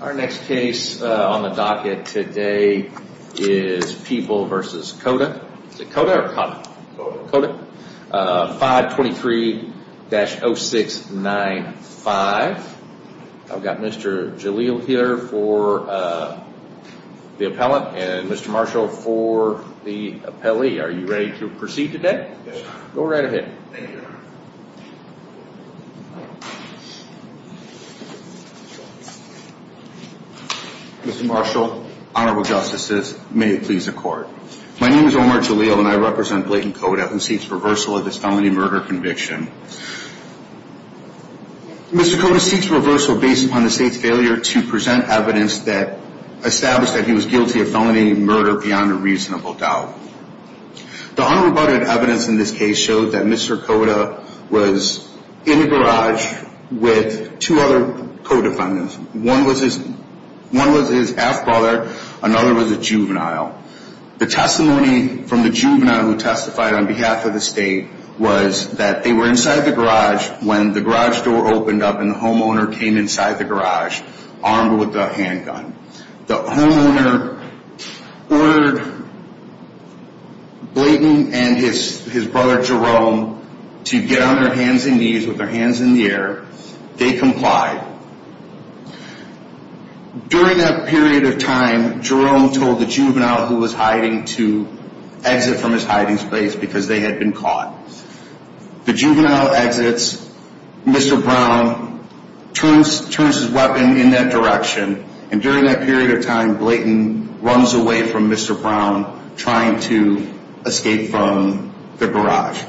Our next case on the docket today is Peeble v. Cota, 523-0695. I've got Mr. Jaleel here for the appellant and Mr. Marshall for the appellee. Are you ready to proceed today? Go right ahead. Mr. Marshall, honorable justices, may it please the court. My name is Omar Jaleel and I represent Blayton Cota who seeks reversal of this felony murder conviction. Mr. Cota seeks reversal based upon the state's failure to present evidence that established that he was guilty of felony murder beyond a reasonable doubt. The unrebutted evidence in this case showed that Mr. Cota was in the garage with two other co-defendants. One was his half-brother, another was a juvenile. The testimony from the juvenile who testified on behalf of the state was that they were inside the garage when the garage door opened up and the homeowner came inside the garage armed with a handgun. The homeowner ordered Blayton and his brother Jerome to get on their hands and knees with their hands in the air. They complied. During that period of time, Jerome told the juvenile who was hiding to exit from his hiding space because they had been caught. The juvenile exits. Mr. Brown turns his weapon in that direction and during that period of time, Blayton runs away from Mr. Brown trying to escape from the garage.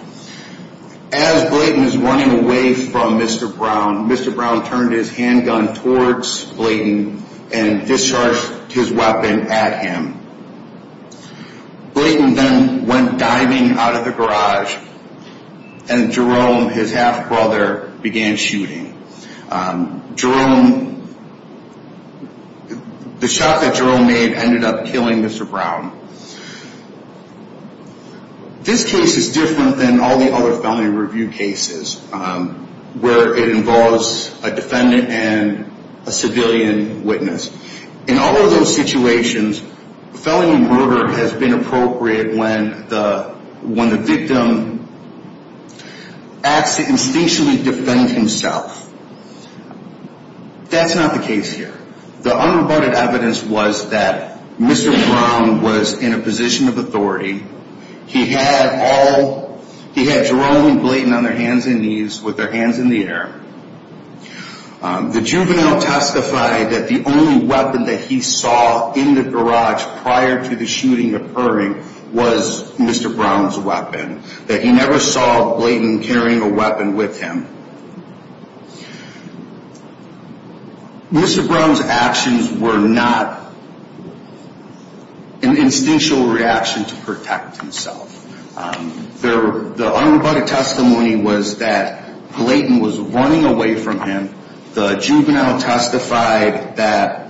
As Blayton is running away from Mr. Brown, Mr. Brown turned his handgun towards Blayton and discharged his weapon at him. Blayton then went diving out of the garage and Jerome, his half-brother, began shooting. The shot that Jerome made ended up killing Mr. Brown. This case is different than all the other felony review cases where it involves a defendant and a civilian witness. In all of those situations, felony murder has been appropriate when the victim acts to instinctually defend himself. That's not the case here. The unreported evidence was that Mr. Brown was in a position of authority. He had Jerome and Blayton on their hands and knees with their hands in the air. The juvenile testified that the only weapon that he saw in the garage prior to the shooting occurring was Mr. Brown's weapon. That he never saw Blayton carrying a weapon with him. Mr. Brown's actions were not an instinctual reaction to protect himself. The unreported testimony was that Blayton was running away from him. The juvenile testified that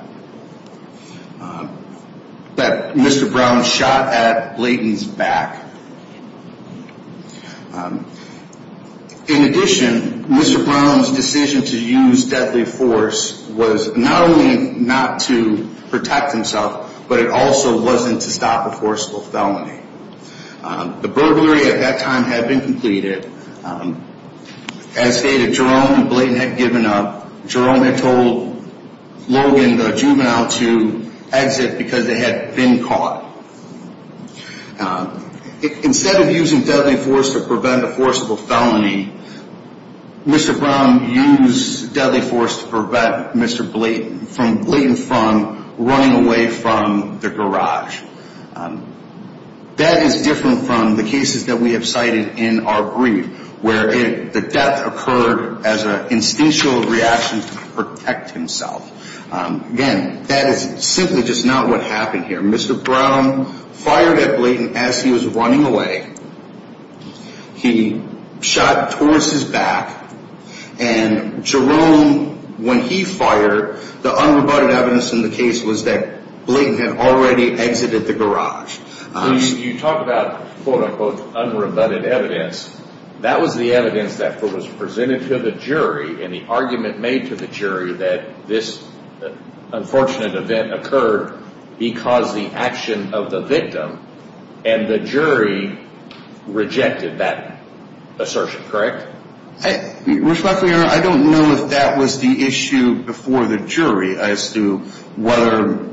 Mr. Brown shot at Blayton's back. In addition, Mr. Brown's decision to use deadly force was not only not to protect himself, but it also wasn't to stop a forceful felony. The burglary at that time had been completed. As stated, Jerome and Blayton had given up. Jerome had told Logan, the juvenile, to exit because they had been caught. Instead of using deadly force to prevent a forceful felony, Mr. Brown used deadly force to prevent Mr. Blayton from running away from the garage. That is different from the cases that we have cited in our brief, where the death occurred as an instinctual reaction to protect himself. Again, that is simply just not what happened here. Mr. Brown fired at Blayton as he was running away. He shot towards his back. And Jerome, when he fired, the unrebutted evidence in the case was that Blayton had already exited the garage. You talk about quote-unquote unrebutted evidence. That was the evidence that was presented to the jury and the argument made to the jury that this unfortunate event occurred because the action of the victim and the jury rejected that assertion, correct? Respectfully, Your Honor, I don't know if that was the issue before the jury as to whether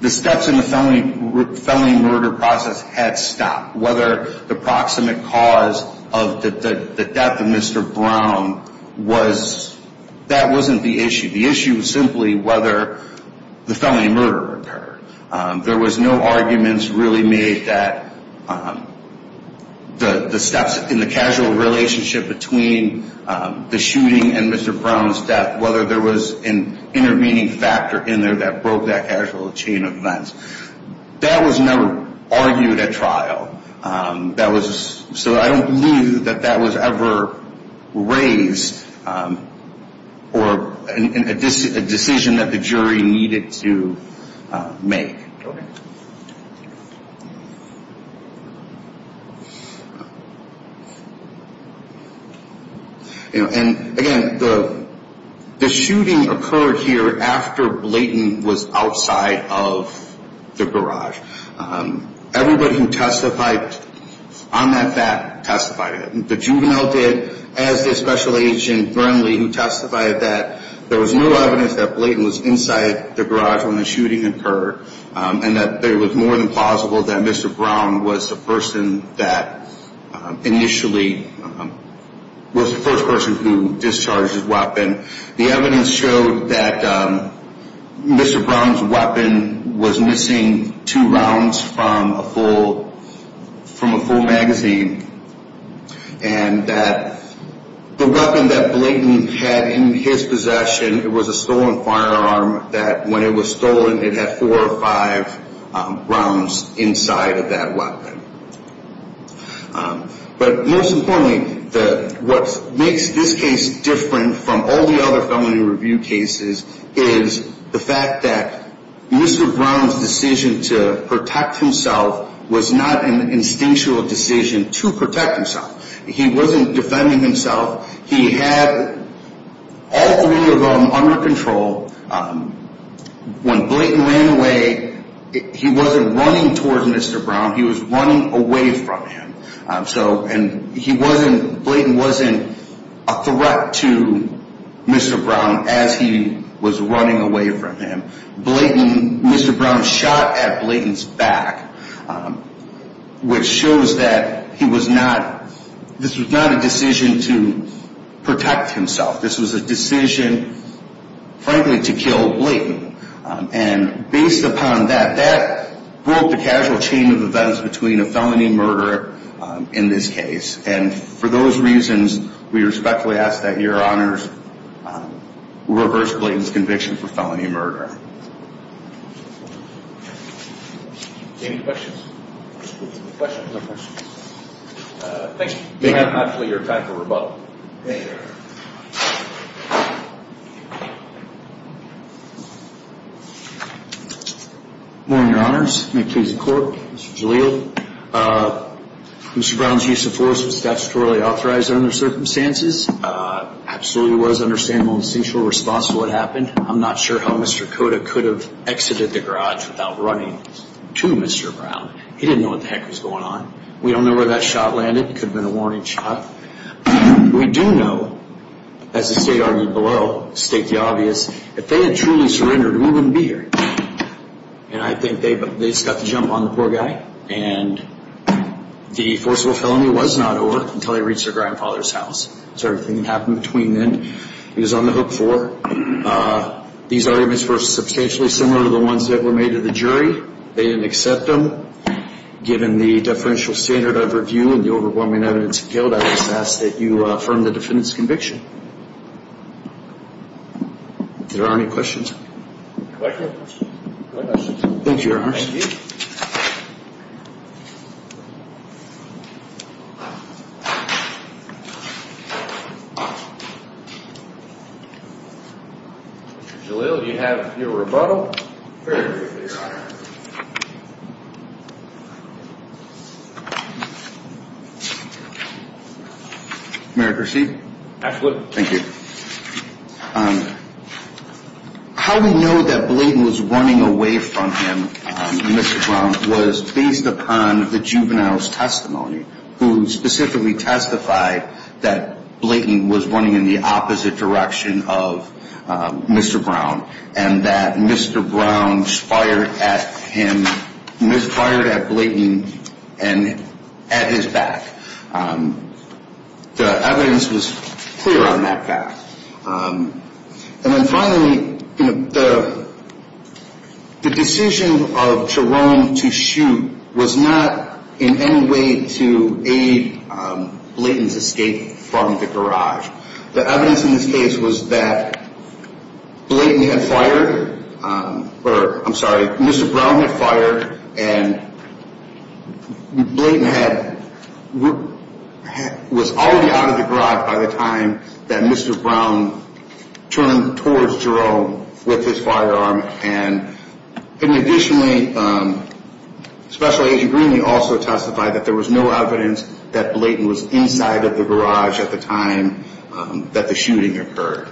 the steps in the felony murder process had stopped. Whether the proximate cause of the death of Mr. Brown was – that wasn't the issue. The issue was simply whether the felony murder occurred. There was no arguments really made that the steps in the casual relationship between the shooting and Mr. Brown's death, whether there was an intervening factor in there that broke that casual chain of events. That was never argued at trial. That was – so I don't believe that that was ever raised or a decision that the jury needed to make. And again, the shooting occurred here after Blayton was outside of the garage. Everybody who testified on that fact testified. The juvenile did as did Special Agent Burnley who testified that there was no evidence that Blayton was inside the garage when the shooting occurred and that it was more than plausible that Mr. Brown was the person that initially was the first person who discharged his weapon. The evidence showed that Mr. Brown's weapon was missing two rounds from a full magazine and that the weapon that Blayton had in his possession, it was a stolen firearm that when it was stolen it had four or five rounds inside of that weapon. But most importantly, what makes this case different from all the other felony review cases is the fact that Mr. Brown's decision to protect himself was not an instinctual decision to protect himself. He wasn't defending himself. He had all three of them under control. When Blayton ran away, he wasn't running towards Mr. Brown. He was running away from him. Blayton wasn't a threat to Mr. Brown as he was running away from him. Mr. Brown shot at Blayton's back, which shows that this was not a decision to protect himself. This was a decision, frankly, to kill Blayton. And based upon that, that broke the casual chain of events between a felony and murder in this case. And for those reasons, we respectfully ask that your honors reverse Blayton's conviction for felony murder. Any questions? No questions. Thank you. You have, hopefully, your time for rebuttal. Morning, your honors. May it please the court. Mr. Jaleel. Mr. Brown's use of force was statutorily authorized under the circumstances. Absolutely was an understandable and instinctual response to what happened. I'm not sure how Mr. Cota could have exited the garage without running to Mr. Brown. He didn't know what the heck was going on. We don't know where that shot landed. It could have been a warning shot. We do know, as the state argued below, state the obvious, if they had truly surrendered, we wouldn't be here. And I think they just got the jump on the poor guy. And the forcible felony was not over until he reached their grandfather's house. So everything that happened between then, he was on the hook for. These arguments were substantially similar to the ones that were made to the jury. They didn't accept them. Given the deferential standard of review and the overwhelming evidence of guilt, I just ask that you affirm the defendant's conviction. Is there any questions? Thank you, your honors. Mr. Jaleel, you have your rebuttal. Very good, your honor. How do we know that Blayton was running away from him, Mr. Brown, was based upon the juvenile's testimony, who specifically testified that Blayton was running in the opposite direction of Mr. Brown, and that Mr. Brown fired at him. And Ms. fired at Blayton and at his back. The evidence was clear on that fact. And then finally, the decision of Jerome to shoot was not in any way to aid Blayton's escape from the garage. The evidence in this case was that Mr. Brown had fired and Blayton was already out of the garage by the time that Mr. Brown turned towards Jerome with his firearm. And additionally, Special Agent Greenlee also testified that there was no evidence that Blayton was inside of the garage at the time that the shooting occurred.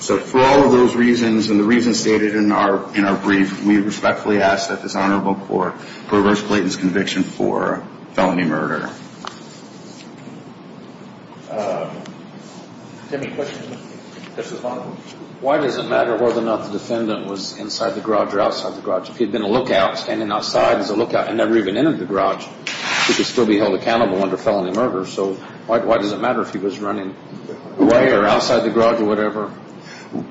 So for all of those reasons, and the reasons stated in our brief, we respectfully ask that this honorable court reverse Blayton's conviction for felony murder. Why does it matter whether or not the defendant was inside the garage or outside the garage? If he had been a lookout standing outside as a lookout and never even entered the garage, he could still be held accountable under felony murder. So why does it matter if he was running away or outside the garage or whatever?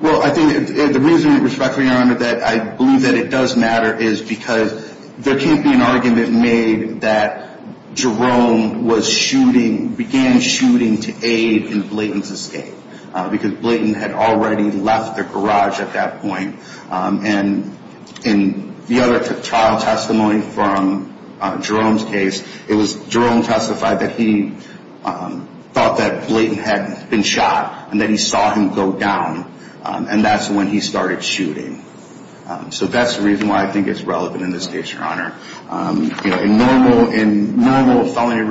Well, I think the reason, respectfully, Your Honor, that I believe that it does matter is because there can't be an argument made that Jerome was shooting, began shooting to aid in Blayton's escape. Because Blayton had already left the garage at that point. And in the other trial testimony from Jerome's case, it was Jerome testified that he thought that Blayton had been shot and that he saw him go down. And that's when he started shooting. So that's the reason why I think it's relevant in this case, Your Honor. In normal felony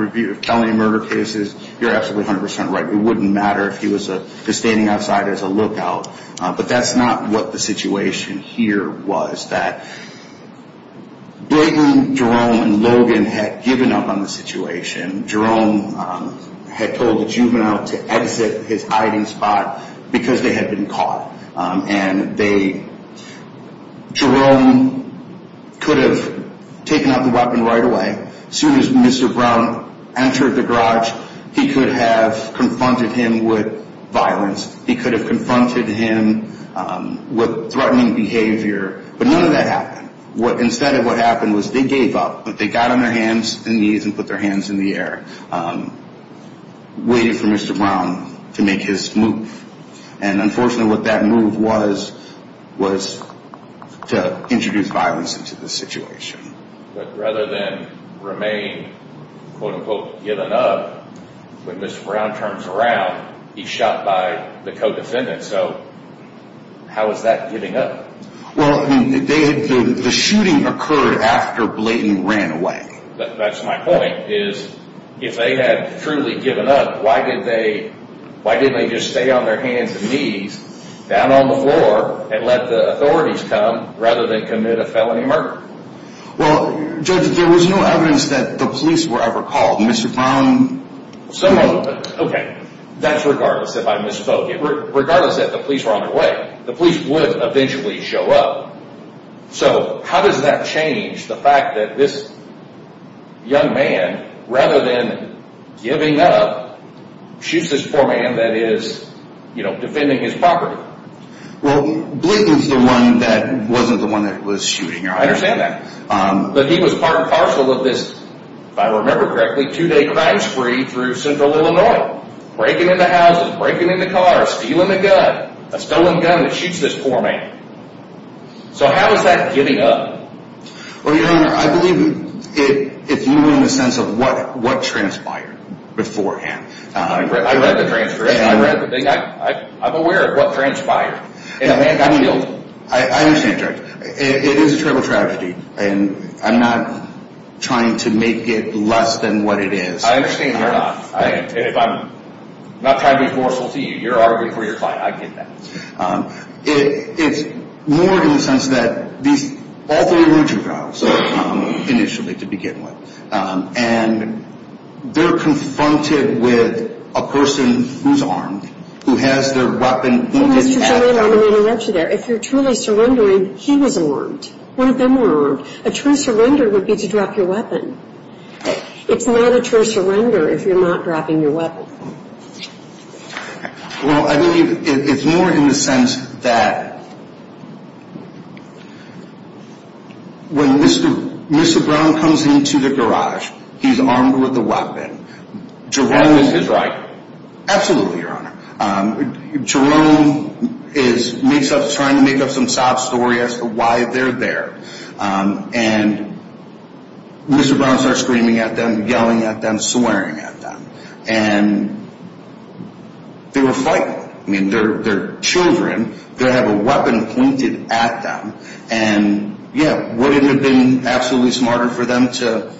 murder cases, you're absolutely 100% right. It wouldn't matter if he was standing outside as a lookout. But that's not what the situation here was. That Blayton, Jerome, and Logan had given up on the situation. Jerome had told the juvenile to exit his hiding spot because they had been caught. And they, Jerome could have taken out the weapon right away. As soon as Mr. Brown entered the garage, he could have confronted him with violence. He could have confronted him with threatening behavior. But none of that happened. Instead of what happened was they gave up, but they got on their hands and knees and put their hands in the air, waiting for Mr. Brown to make his move. And unfortunately what that move was, was to introduce violence into the situation. But rather than remain, quote unquote, given up, when Mr. Brown turns around, he's shot by the co-defendant. So how is that giving up? Well, the shooting occurred after Blayton ran away. That's my point, is if they had truly given up, why didn't they just stay on their hands and knees down on the floor and let the authorities come rather than commit a felony murder? Well, Judge, there was no evidence that the police were ever called. Mr. Brown... Okay, that's regardless if I misspoke. Regardless that the police were on their way, the police would eventually show up. So how does that change the fact that this young man, rather than giving up, shoots this poor man that is, you know, defending his property? Well, Blayton's the one that wasn't the one that was shooting. I understand that. But he was part and parcel of this, if I remember correctly, two-day crime spree through Central Illinois. Breaking into houses, breaking into cars, stealing a gun, a stolen gun that shoots this poor man. So how is that giving up? Well, Your Honor, I believe it's more in the sense of what transpired beforehand. I read the transcript. I read the thing. I'm aware of what transpired. I understand, Judge. It is a terrible tragedy. And I'm not trying to make it less than what it is. I understand you're not. And if I'm not trying to be forceful to you, you're arguing for your client. I get that. It's more in the sense that these, all three were juveniles initially to begin with. And they're confronted with a person who's armed, who has their weapon. Well, Mr. Germain, I'm going to interrupt you there. If you're truly surrendering, he was armed. One of them were armed. A true surrender would be to drop your weapon. It's not a true surrender if you're not dropping your weapon. Well, I believe it's more in the sense that when Mr. Brown comes into the garage, he's armed with a weapon. Jerome is his right. Absolutely, Your Honor. Jerome is trying to make up some sob story as to why they're there. And Mr. Brown starts screaming at them, yelling at them, swearing at them. And they were frightened. I mean, they're children. They have a weapon pointed at them. And, yeah, would it have been absolutely smarter for them to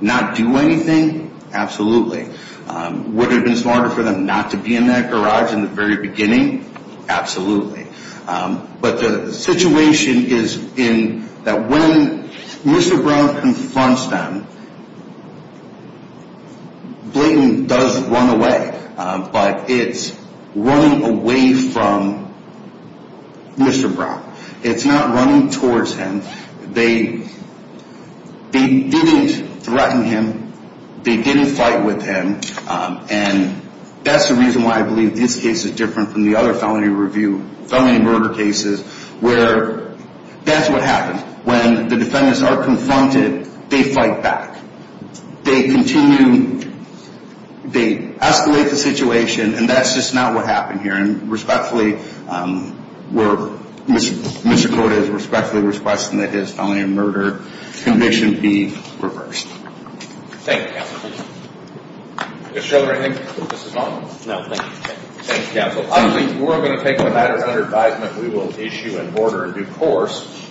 not do anything? Absolutely. Would it have been smarter for them not to be in that garage in the very beginning? Absolutely. But the situation is in that when Mr. Brown confronts them, Blayton does run away. But it's running away from Mr. Brown. It's not running towards him. They didn't threaten him. They didn't fight with him. And that's the reason why I believe this case is different from the other felony murder cases where that's what happens. When the defendants are confronted, they fight back. They continue, they escalate the situation, and that's just not what happened here. And respectfully, where Mr. Cota is respectfully requesting that his felony murder conviction be reversed. Thank you, Counsel. Mr. Sheldon, anything? No, thank you. Thank you, Counsel. I believe we're going to take the matter under advisement. We will issue an order in due course.